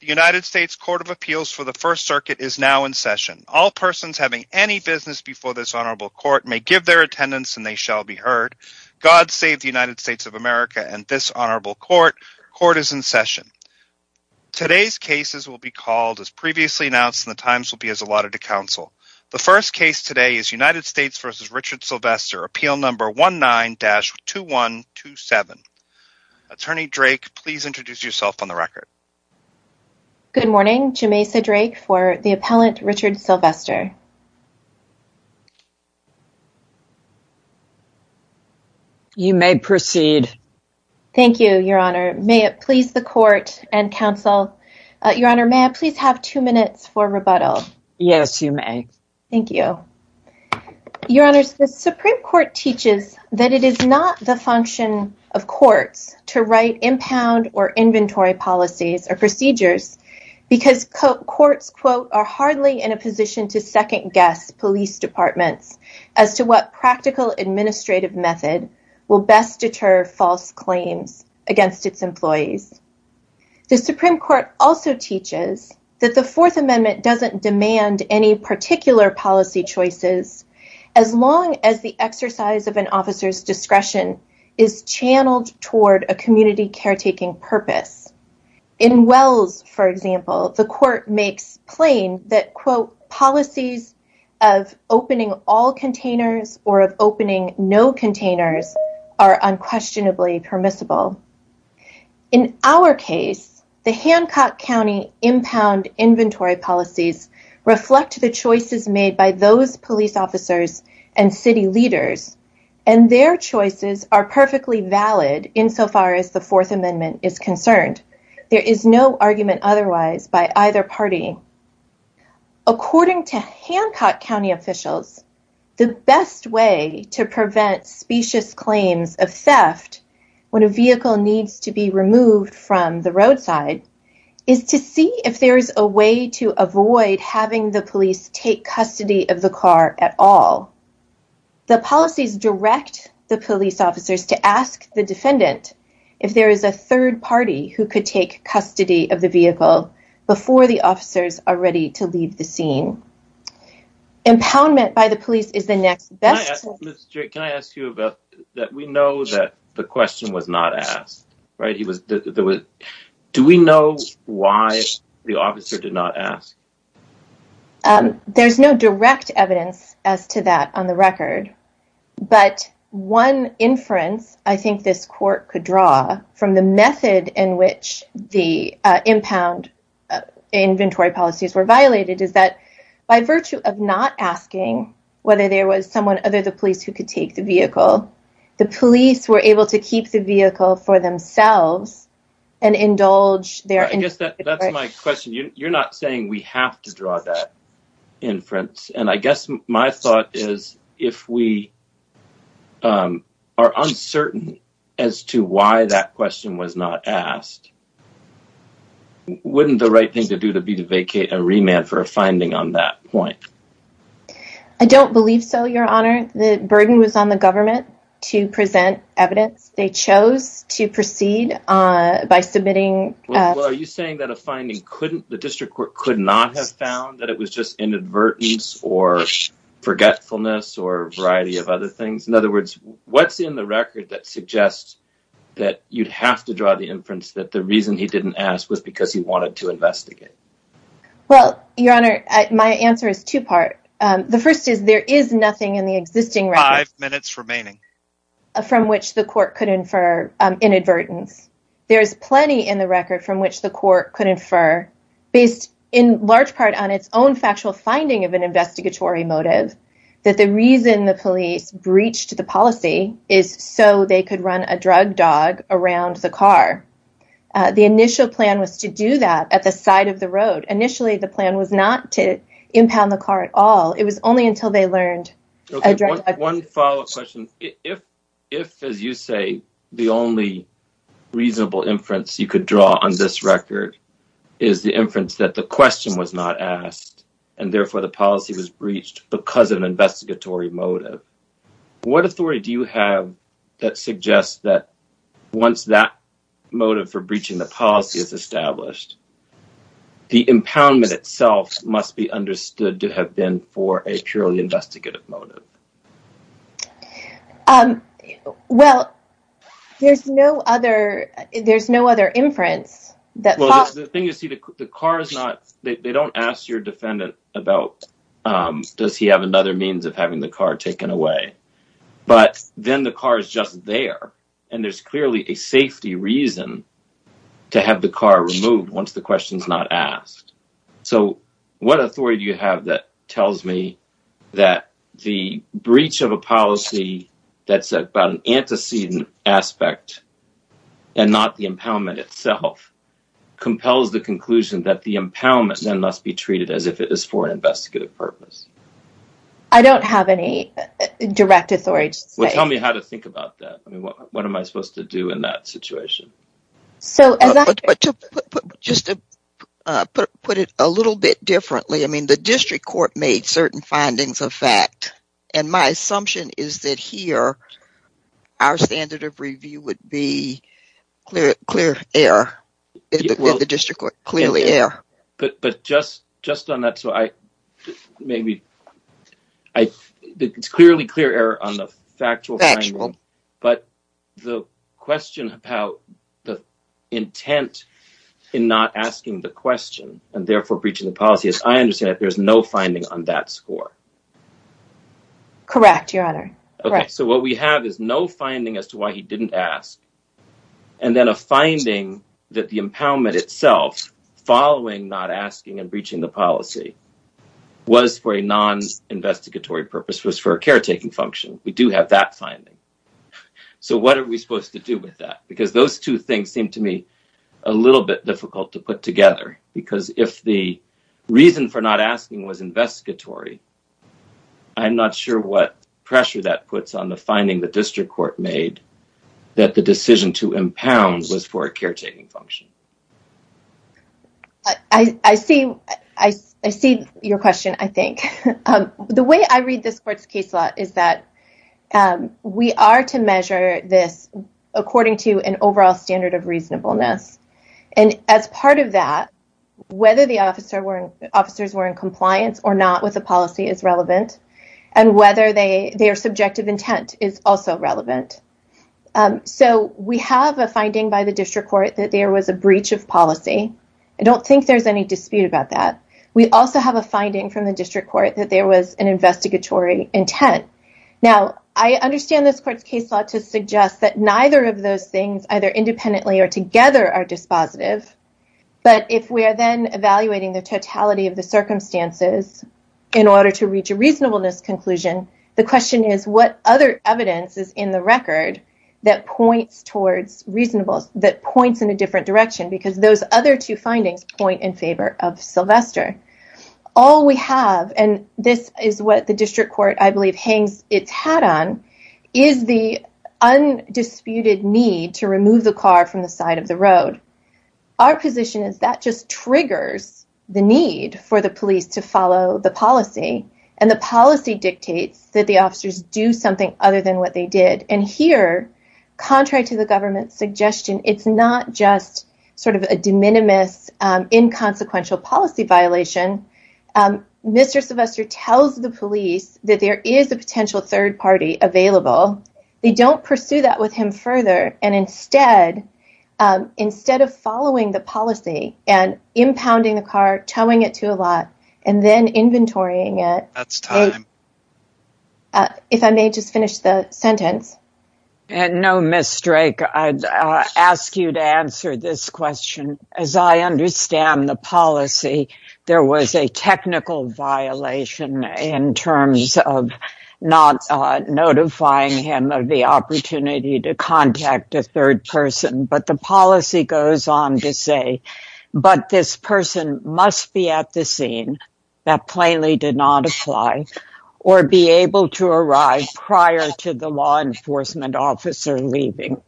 The United States Court of Appeals for the First Circuit is now in session. All persons having any business before this honorable court may give their attendance and they shall be heard. God save the United States of America and this honorable court. Court is in session. Today's cases will be called as previously announced and the times will be as allotted to counsel. The first case today is United States v. Richard Sylvester, Appeal Number 19-2127. Attorney Drake, please introduce yourself on the record. Good morning, Jamesa Drake for the appellant Richard Sylvester. You may proceed. Thank you, Your Honor. May it please the court and counsel, Your Honor, may I please have two minutes for rebuttal? Yes, you may. Thank you. Your Honor, the Supreme Court teaches that it is not the function of courts to write impound or inventory policies or procedures because courts, quote, are hardly in a position to second guess police departments as to what practical administrative method will best deter false claims against its employees. The Supreme Court also teaches that the Fourth Amendment doesn't demand any particular policy choices as long as the exercise of an officer's discretion is channeled toward a community caretaking purpose. In Wells, for example, the court makes plain that, quote, policies of opening all containers or of opening no containers are unquestionably permissible. In our case, the Hancock County impound inventory policies reflect the choices made by those police officers and city leaders, and their choices are perfectly valid insofar as the Fourth Amendment is concerned. There is no argument otherwise by either party. According to Hancock County officials, the best way to prevent specious claims of theft when a vehicle needs to be removed from the roadside is to see if there is a way to avoid having the police take custody of the car at all. The policies direct the police officers to ask the defendant if there is a third party who could take custody of the vehicle before the officers are ready to leave the scene. Impoundment by the police is not a crime, but it is a violation of the Fourth Amendment. Can I ask you about that? We know that the question was not asked, right? Do we know why the officer did not ask? There's no direct evidence as to that on the record, but one inference I the method in which the impound inventory policies were violated is that by virtue of not asking whether there was someone other than the police who could take the vehicle, the police were able to keep the vehicle for themselves and indulge their interests. That's my question. You're not saying we have to draw that inference, and I guess my thought is if we are uncertain as to why that question was not asked, wouldn't the right thing to do be to vacate and remand for a finding on that point? I don't believe so, Your Honor. The burden was on the government to present evidence. They chose to proceed by submitting... Well, are you saying that a finding couldn't, district court could not have found that it was just inadvertence or forgetfulness or a variety of other things? In other words, what's in the record that suggests that you'd have to draw the inference that the reason he didn't ask was because he wanted to investigate? Well, Your Honor, my answer is two-part. The first is there is nothing in the existing record... Five minutes remaining. ...from which the court could infer inadvertence. There is plenty in the record from which the court could infer, based in large part on its own factual finding of an investigatory motive, that the reason the police breached the policy is so they could run a drug dog around the car. The initial plan was to do that at the side of the road. Initially, the plan was not to impound the car at all. It was you could draw on this record is the inference that the question was not asked, and therefore, the policy was breached because of an investigatory motive. What authority do you have that suggests that once that motive for breaching the policy is established, the impoundment itself must be understood to have been for a purely investigative motive? Well, there's no other inference that... Well, the thing is, the car is not... They don't ask your defendant about does he have another means of having the car taken away, but then the car is just there, and there's clearly a safety reason to have the car removed once the question's not breached. A policy that's about an antecedent aspect and not the impoundment itself compels the conclusion that the impoundment then must be treated as if it is for an investigative purpose. I don't have any direct authority. Well, tell me how to think about that. I mean, what am I supposed to do in that situation? So, just to put it a little bit differently, the district court made certain findings of fact, and my assumption is that here, our standard of review would be clear error. Did the district court clearly err? But just on that, so I maybe... It's clearly clear error on the factual finding, but the question about the intent in not asking the question, and therefore, breaching the policy, I understand that there's no finding on that score. Correct, your honor. Okay, so what we have is no finding as to why he didn't ask, and then a finding that the impoundment itself, following not asking and breaching the policy, was for a non-investigatory purpose, was for a caretaking function. We do have that finding. So, what are we supposed to do with that? Because those two things seem to me a little bit difficult to put together, because if the reason for not asking was investigatory, I'm not sure what pressure that puts on the finding the district court made that the decision to impound was for a caretaking function. I see your question, I think. The way I read this court's case law is that we are to measure this according to an overall standard of reasonableness, and as part of that, whether the officers were in compliance or not with the policy is relevant, and whether their subjective intent is also relevant. So, we have a finding by the district court that there was a breach of policy. I don't think there's any that there was an investigatory intent. Now, I understand this court's case law to suggest that neither of those things, either independently or together, are dispositive, but if we are then evaluating the totality of the circumstances in order to reach a reasonableness conclusion, the question is what other evidence is in the record that points towards reasonableness, that points in a different direction, because those other two findings point in favor of Sylvester. All we have, and this is what the district court, I believe, hangs its hat on, is the undisputed need to remove the car from the side of the road. Our position is that just triggers the need for the police to follow the policy, and the policy dictates that the officers do something other than what they did, and here, contrary to the government's suggestion, it's not just sort of a de minimis inconsequential policy violation. Mr. Sylvester tells the police that there is a potential third party available. They don't pursue that with him further, and instead of following the policy and impounding the car, towing it to a lot, and then inventorying it, that's time. If I may just finish the sentence. No, Ms. Drake, I'd ask you to answer this question. As I understand the policy, there was a technical violation in terms of not notifying him of the opportunity to contact a third person, but the policy goes on to say, but this person must be at the scene, that plainly did not apply, or be able to arrive prior to the law enforcement officer leaving.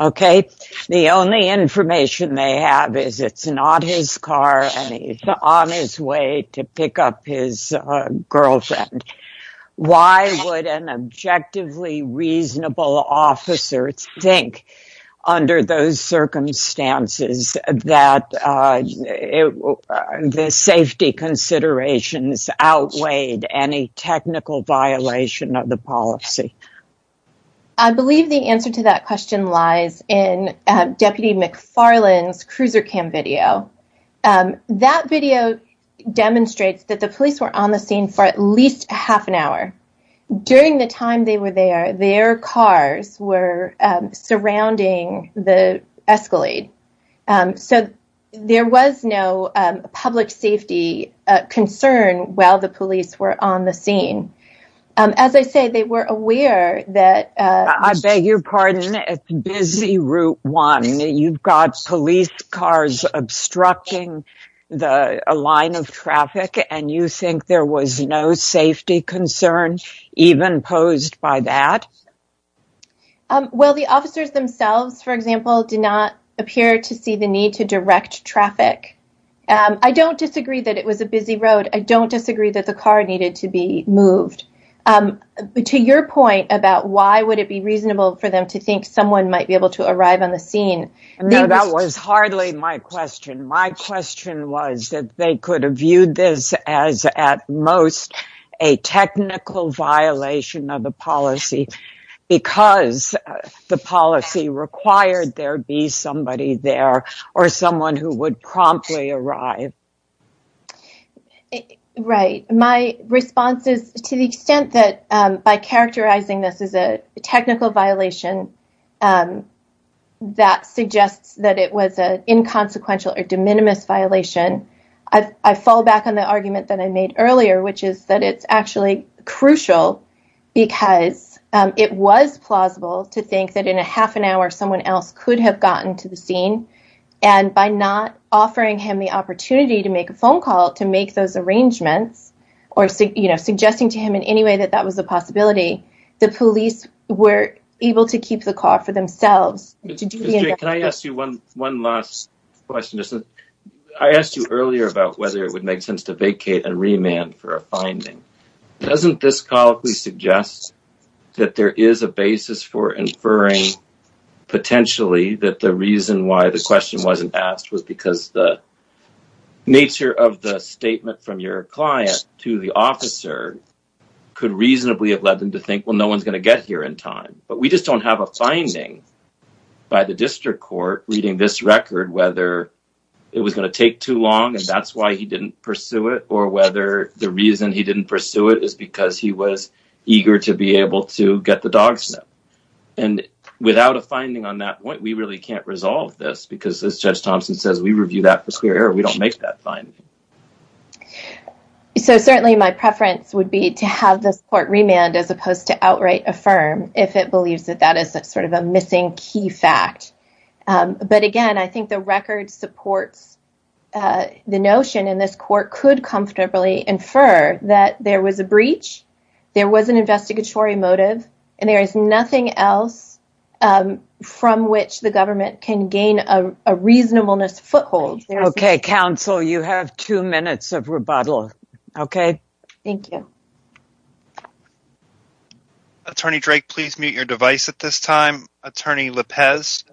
Okay, the only information they have is it's not his car, and he's on his way to pick up his girlfriend. Why would an objectively reasonable officer think, under those circumstances, that the safety considerations outweighed any technical violation of the policy? I believe the answer to that question lies in Deputy McFarland's cruiser cam video. That video demonstrates that the police were on the scene for at least half an hour. During the there was no public safety concern while the police were on the scene. As I say, they were aware that... I beg your pardon, it's busy route one. You've got police cars obstructing the line of traffic, and you think there was no safety concern even posed by that? Well, the officers themselves, for example, did not appear to see the need to direct traffic. I don't disagree that it was a busy road. I don't disagree that the car needed to be moved. To your point about why would it be reasonable for them to think someone might be able to arrive on the scene... No, that was hardly my question. My question was that they could have viewed this as, at most, a technical violation of the policy because the policy required there be somebody there or someone who would promptly arrive. Right. My response is to the extent that by characterizing this as a technical violation that suggests that it was an inconsequential or de minimis violation, I fall back on the argument that I made earlier, which is that it's actually crucial because it was plausible to think that in a half an hour someone else could have gotten to the scene, and by not offering him the opportunity to make a phone call to make those arrangements or suggesting to him in any way that that was a possibility, the police were able to keep the question. I asked you earlier about whether it would make sense to vacate and remand for a finding. Doesn't this colloquially suggest that there is a basis for inferring potentially that the reason why the question wasn't asked was because the nature of the statement from your client to the officer could reasonably have led them to think, well, no one's going to get here in time, but we just don't have a finding by the district court reading this record whether it was going to take too long and that's why he didn't pursue it or whether the reason he didn't pursue it is because he was eager to be able to get the dog sniffed. And without a finding on that point, we really can't resolve this because as Judge Thompson says, we review that for clear error. We don't make that finding. So certainly my preference would be to have this remand as opposed to outright affirm if it believes that that is sort of a missing key fact. But again, I think the record supports the notion in this court could comfortably infer that there was a breach, there was an investigatory motive, and there is nothing else from which the government can gain a reasonableness foothold. Okay, counsel, you have two minutes of rebuttal. Okay. Thank you. Attorney Drake, please mute your device at this time. Attorney Lopez,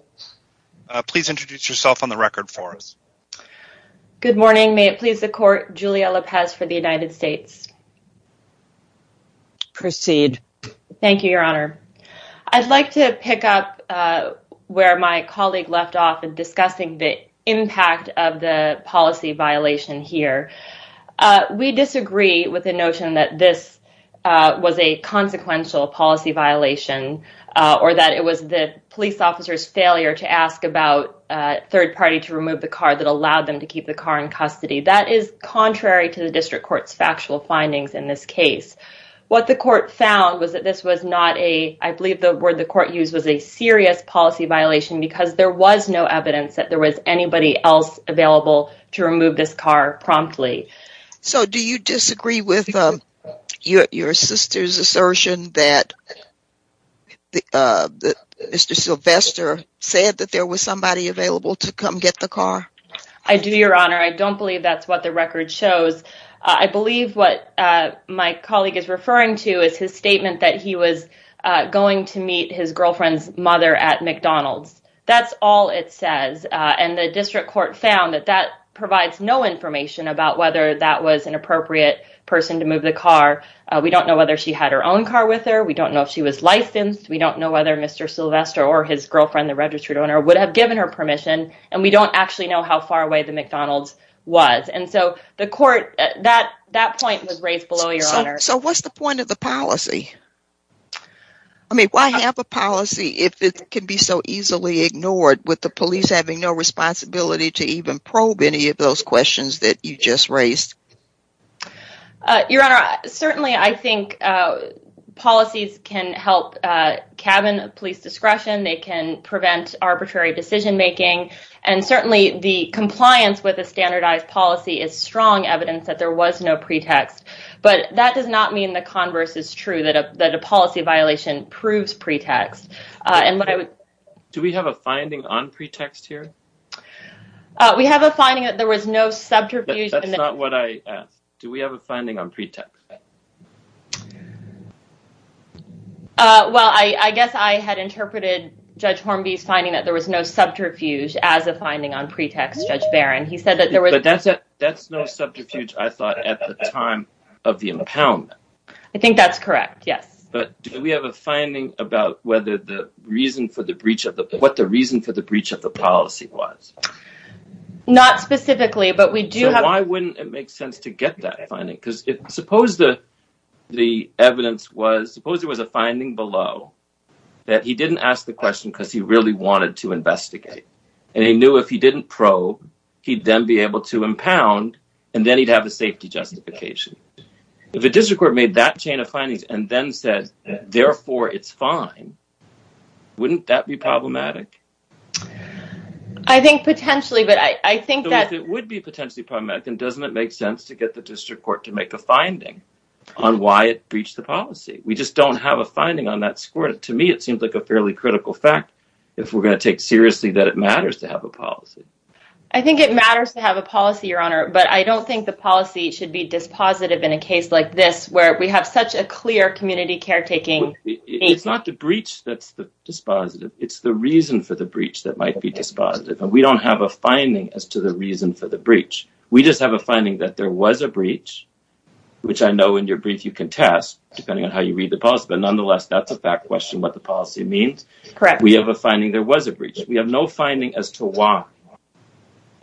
please introduce yourself on the record for us. Good morning. May it please the court, Julia Lopez for the United States. Proceed. Thank you, Your Honor. I'd like to pick up where my colleague left off in discussing the policy violation here. We disagree with the notion that this was a consequential policy violation, or that it was the police officer's failure to ask about third party to remove the car that allowed them to keep the car in custody. That is contrary to the district court's factual findings in this case. What the court found was that this was not a, I believe the word the court used was a serious policy violation because there was no evidence that there was anybody else available to remove this car promptly. So do you disagree with your sister's assertion that Mr. Sylvester said that there was somebody available to come get the car? I do, Your Honor. I don't believe that's what the record shows. I believe what my colleague is referring to is his statement that he was going to meet his girlfriend's mother at McDonald's. That's all it says. And the district court found that that provides no information about whether that was an appropriate person to move the car. We don't know whether she had her own car with her. We don't know if she was licensed. We don't know whether Mr. Sylvester or his girlfriend, the registered owner, would have given her permission. And we don't actually know how far away the McDonald's was. And so the court, that point was raised below, Your Honor. So what's the point of the policy? I mean, why have a policy if it can be so easily ignored with the police having no responsibility to even probe any of those questions that you just raised? Your Honor, certainly I think policies can help cabin police discretion. They can prevent arbitrary decision making. And certainly the compliance with a standardized policy is strong evidence that there was no pretext. But that does not mean the converse is true, that a policy violation proves pretext. Do we have a finding on pretext here? We have a finding that there was no subterfuge. That's not what I asked. Do we have a finding on pretext? Well, I guess I had interpreted Judge Hornby's finding that there was no subterfuge as a finding on pretext, Judge Barron. But that's no subterfuge, I thought, at the time of the impoundment. I think that's correct. Yes. But do we have a finding about what the reason for the breach of the policy was? Not specifically, but we do have... So why wouldn't it make sense to get that finding? Because suppose there was a finding below that he didn't ask the question because he really wanted to investigate. And he knew if he didn't probe, he'd then be able to impound, and then he'd have a safety justification. If a district court made that chain of findings and then said, therefore, it's fine, wouldn't that be problematic? I think potentially, but I think that... So if it would be potentially problematic, then doesn't it make sense to get the district court to make a finding on why it breached the policy? We just don't have a finding on that fact, if we're going to take seriously that it matters to have a policy. I think it matters to have a policy, Your Honor, but I don't think the policy should be dispositive in a case like this, where we have such a clear community caretaking... It's not the breach that's the dispositive. It's the reason for the breach that might be dispositive. And we don't have a finding as to the reason for the breach. We just have a finding that there was a breach, which I know in your brief you can test, depending on how you read the policy. But nonetheless, that's a fact question, what the finding there was a breach. We have no finding as to why.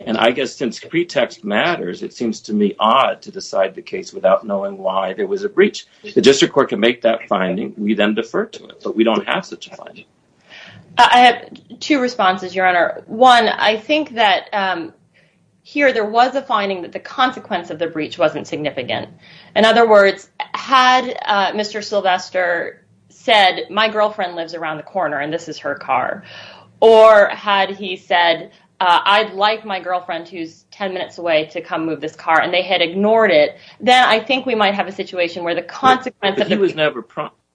And I guess since pretext matters, it seems to me odd to decide the case without knowing why there was a breach. The district court can make that finding, we then defer to it, but we don't have such a finding. I have two responses, Your Honor. One, I think that here there was a finding that the consequence of the breach wasn't significant. In other words, had Mr. Sylvester said, my girlfriend lives around the corner and this is her car, or had he said, I'd like my girlfriend who's 10 minutes away to come move this car, and they had ignored it, then I think we might have a situation where the consequence... But he was never...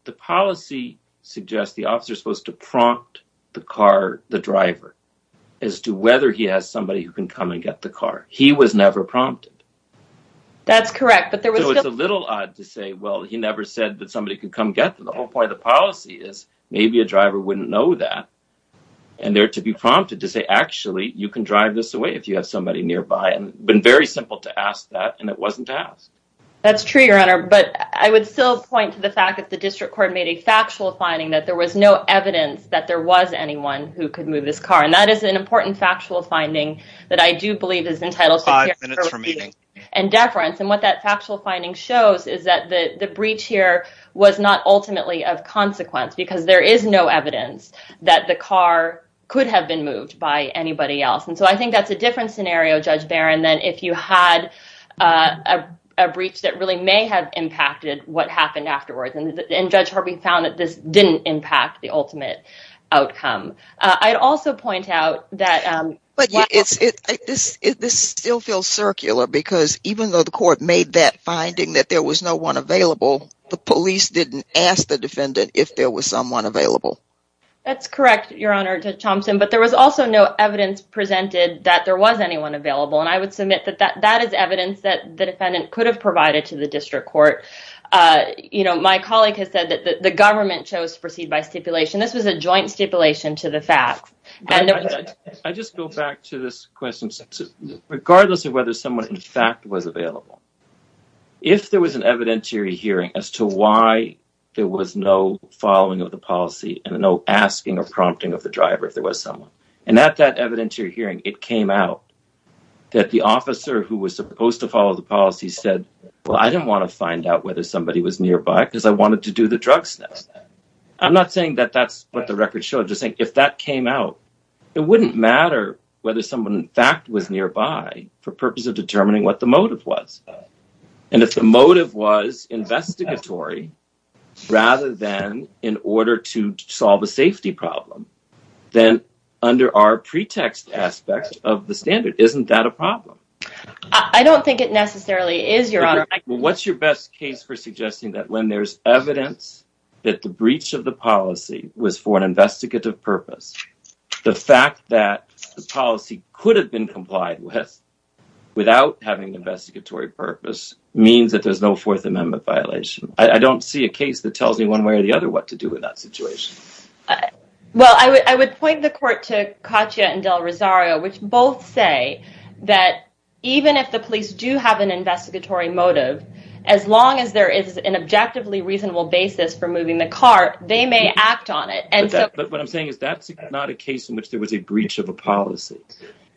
The policy suggests the officer is supposed to prompt the car, the driver, as to whether he has somebody who can come and get the car. He was never prompted. That's correct, but there was... So it's a little odd to say, well, he never said that a driver wouldn't know that, and there to be prompted to say, actually, you can drive this away if you have somebody nearby. And it's been very simple to ask that, and it wasn't to ask. That's true, Your Honor, but I would still point to the fact that the district court made a factual finding that there was no evidence that there was anyone who could move this car. And that is an important factual finding that I do believe is entitled to... Five minutes remaining. And deference. And what that factual finding shows is that the breach here was not ultimately of consequence, because there is no evidence that the car could have been moved by anybody else. And so I think that's a different scenario, Judge Barron, than if you had a breach that really may have impacted what happened afterwards. And Judge Harvey found that this didn't impact the ultimate outcome. I'd also point out that... But this still feels circular, because even though the court made that finding that there was no one available, the police didn't ask the defendant if there was someone available. That's correct, Your Honor, Judge Thompson, but there was also no evidence presented that there was anyone available. And I would submit that that is evidence that the defendant could have provided to the district court. My colleague has said that the government chose to proceed by stipulation. This was a joint stipulation to the facts. I just go back to this question. Regardless of whether someone in fact was available, if there was an evidentiary hearing as to why there was no following of the policy and no asking or prompting of the driver if there was someone. And at that evidentiary hearing, it came out that the officer who was supposed to follow the policy said, well, I didn't want to find out whether somebody was nearby because I wanted to do the drugs test. I'm not saying that that's what the record showed, just saying if that came out, it wouldn't matter whether someone in fact was nearby for purpose of determining what the motive was. And if the motive was investigatory, rather than in order to solve a safety problem, then under our pretext aspects of the standard, isn't that a problem? I don't think it necessarily is, Your Honor. What's your best case for suggesting that when there's evidence that the breach of the policy was for an investigative purpose, the fact that the policy could have been complied with without having investigatory purpose means that there's no Fourth Amendment violation. I don't see a case that tells me one way or the other what to do with that situation. Well, I would point the court to Katia and Del Rosario, which both say that even if the police do have an investigatory motive, as long as there is an objectively reasonable basis for moving the car, they may act on it. But what I'm saying is that's not a case in which there was a breach of a policy.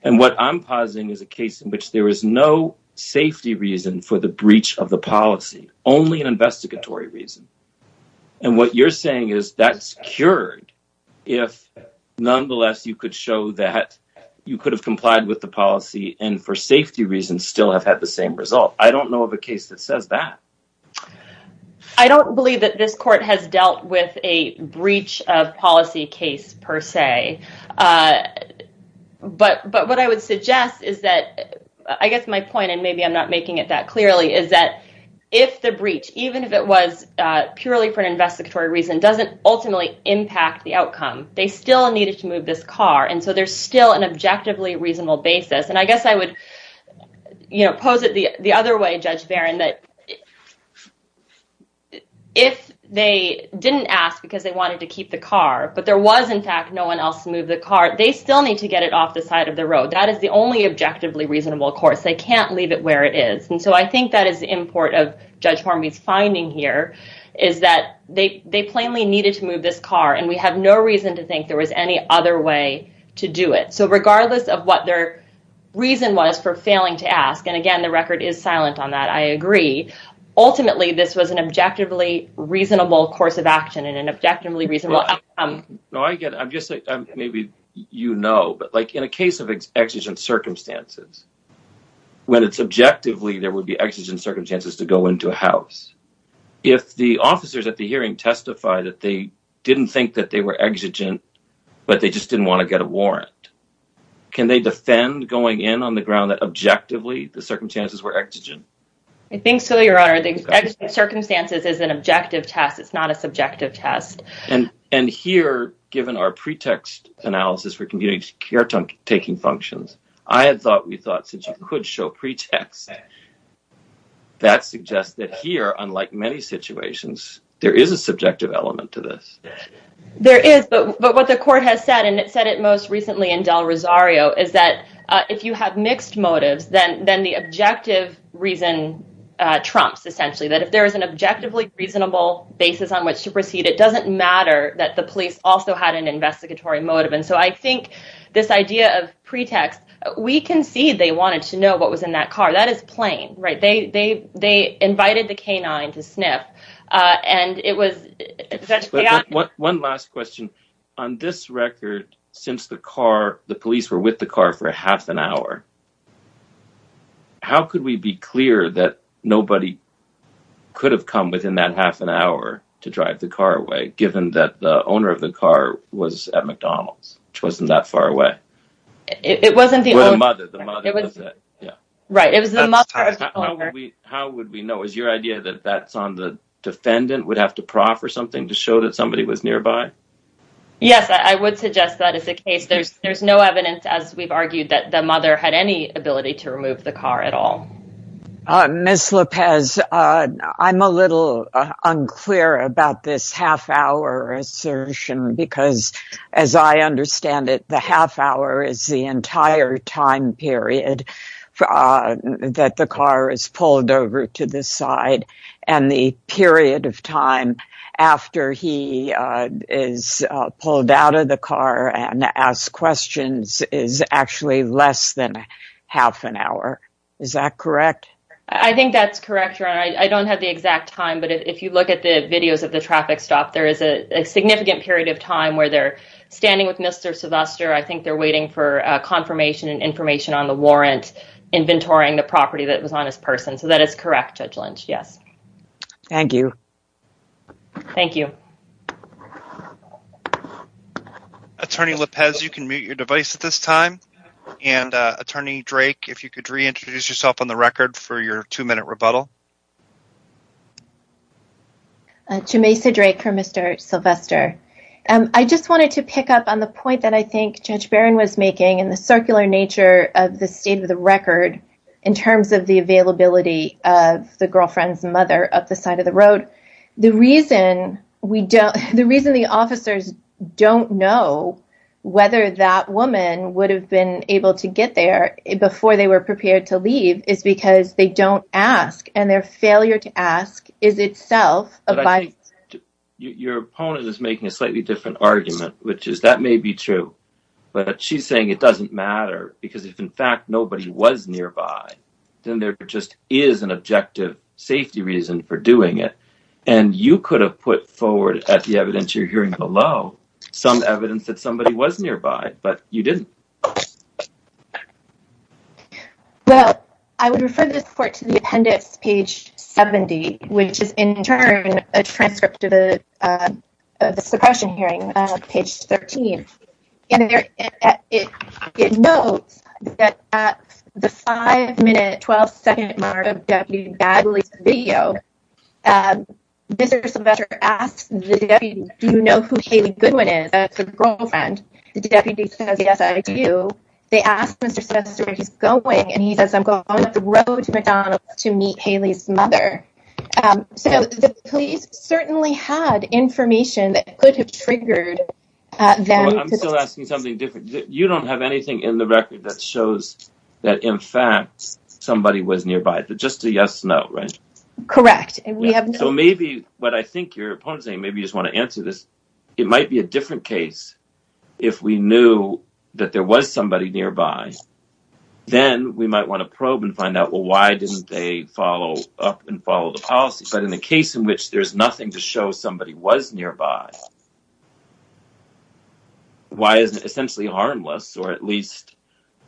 And what I'm positing is a case in which there is no safety reason for the breach of the policy, only an investigatory reason. And what you're saying is that's cured if, nonetheless, you could show that you could have complied with the policy and for safety reasons still have the same result. I don't know of a case that says that. I don't believe that this court has dealt with a breach of policy case per se. But what I would suggest is that, I guess my point, and maybe I'm not making it that clearly, is that if the breach, even if it was purely for an investigatory reason, doesn't ultimately impact the outcome, they still needed to move this car. And so there's still an objectively reasonable basis. And I guess I would pose it the other way, Judge Baron, that if they didn't ask because they wanted to keep the car, but there was, in fact, no one else to move the car, they still need to get it off the side of the road. That is the only objectively reasonable course. They can't leave it where it is. And so I think that is the import of Judge Horme's finding here, is that they plainly needed to move this car. And we have no reason to think there was any other way to do it. So regardless of what their reason was for failing to ask, and again the record is silent on that, I agree, ultimately this was an objectively reasonable course of action and an objectively reasonable outcome. No, I get it. I'm just saying, maybe you know, but like in a case of exigent circumstances, when it's objectively there would be exigent circumstances to go into a house, if the officers at the hearing testify that they didn't think that they were exigent, but they just didn't want to get a warrant, can they defend going in on the ground that objectively the circumstances were exigent? I think so, Your Honor. The exigent circumstances is an objective test. It's not a subjective test. And here, given our pretext analysis for community care taking functions, I had thought, we thought, since you could show pretext, that suggests that here, unlike many situations, there is a subjective element to this. There is, but what the court has said, and it said it most recently in Del Rosario, is that if you have mixed motives, then the objective reason trumps, essentially, that if there is an objectively reasonable basis on which to proceed, it doesn't matter that the police also had an investigatory motive. And so I think this idea of we concede they wanted to know what was in that car, that is plain, right? They invited the canine to sniff, and it was... One last question. On this record, since the car, the police were with the car for half an hour, how could we be clear that nobody could have come within that half an hour to drive the car away, given that the owner of the car was at McDonald's, which wasn't that far away? It wasn't the... Or the mother, the mother, was it? Yeah. Right, it was the mother of the owner. How would we know? Is your idea that that's on the defendant, would have to proffer something to show that somebody was nearby? Yes, I would suggest that is the case. There's no evidence, as we've argued, that the mother had any ability to remove the car at all. Ms. Lopez, I'm a little unclear about this half hour assertion, because as I understand it, the half hour is the entire time period that the car is pulled over to the side, and the period of time after he is pulled out of the car and asked questions is actually less than half an hour. Is that correct? I think that's correct, Your Honor. I don't have the exact time, but if you look at the videos of the traffic stop, there is a significant period of time where they're standing with Mr. Sylvester. I think they're waiting for confirmation and information on the warrant, inventorying the property that was on his person. So that is correct, Judge Lynch, yes. Thank you. Thank you. Attorney Lopez, you can mute your device at this time. And Attorney Drake, if you could reintroduce yourself on the record for your two-minute break. I just wanted to pick up on the point that I think Judge Barron was making in the circular nature of the state of the record in terms of the availability of the girlfriend's mother up the side of the road. The reason the officers don't know whether that woman would have been able to get there before they were prepared to leave is because they don't ask, and their failure to ask is itself a bias. Your opponent is making a slightly different argument, which is that may be true, but she's saying it doesn't matter because if in fact nobody was nearby, then there just is an objective safety reason for doing it. And you could have put forward at the evidence you're hearing below some evidence that somebody was nearby, but you didn't. Well, I would refer this to the appendix, page 70, which is in turn a transcript of the suppression hearing, page 13. It notes that at the five-minute, 12-second mark of Deputy Bagley's video, Mr. Sylvester asks the deputy, do you know who Haley Goodwin is, the girlfriend? The deputy says, yes, I do. They ask Mr. Sylvester where he's going, and he says, I'm going up the road to McDonald's to meet Haley's mother. So the police certainly had information that could have triggered them. I'm still asking something different. You don't have anything in the record that shows that in fact somebody was nearby, just a yes-no, right? Correct. So maybe what I think your opponent's saying, maybe you just want to answer this, it might be a different case if we knew that there was somebody nearby, then we might want to probe and find out, well, why didn't they follow up and follow the policy? But in a case in which there's nothing to show somebody was nearby, why isn't it essentially harmless or at least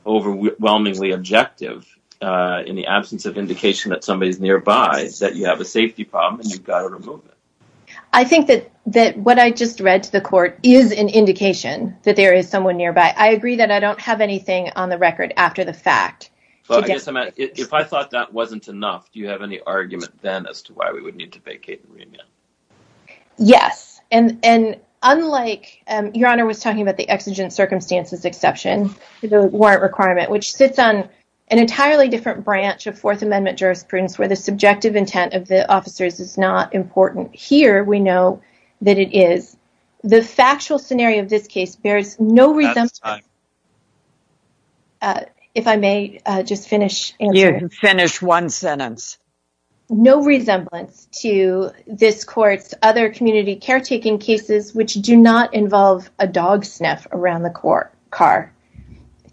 overwhelmingly objective in the absence of indication that somebody's nearby, that you have a safety problem and you've got to remove them? I think that what I just read to the court is an indication that there is someone nearby. I agree that I don't have anything on the record after the fact. If I thought that wasn't enough, do you have any argument then as to why we would need to vacate the remit? Yes. And unlike, your Honor was talking about the exigent circumstances exception to the warrant requirement, which sits on an entirely different branch of Fourth Amendment jurisprudence where the subjective intent of here, we know that it is, the factual scenario of this case bears no resemblance. If I may just finish. You can finish one sentence. No resemblance to this court's other community caretaking cases, which do not involve a dog sniff around the car.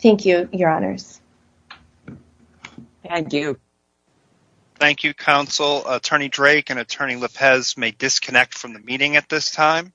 Thank you, your Honors. Thank you. Thank you, Counsel. Attorney Drake and Attorney Lopez may disconnect from the meeting at this time.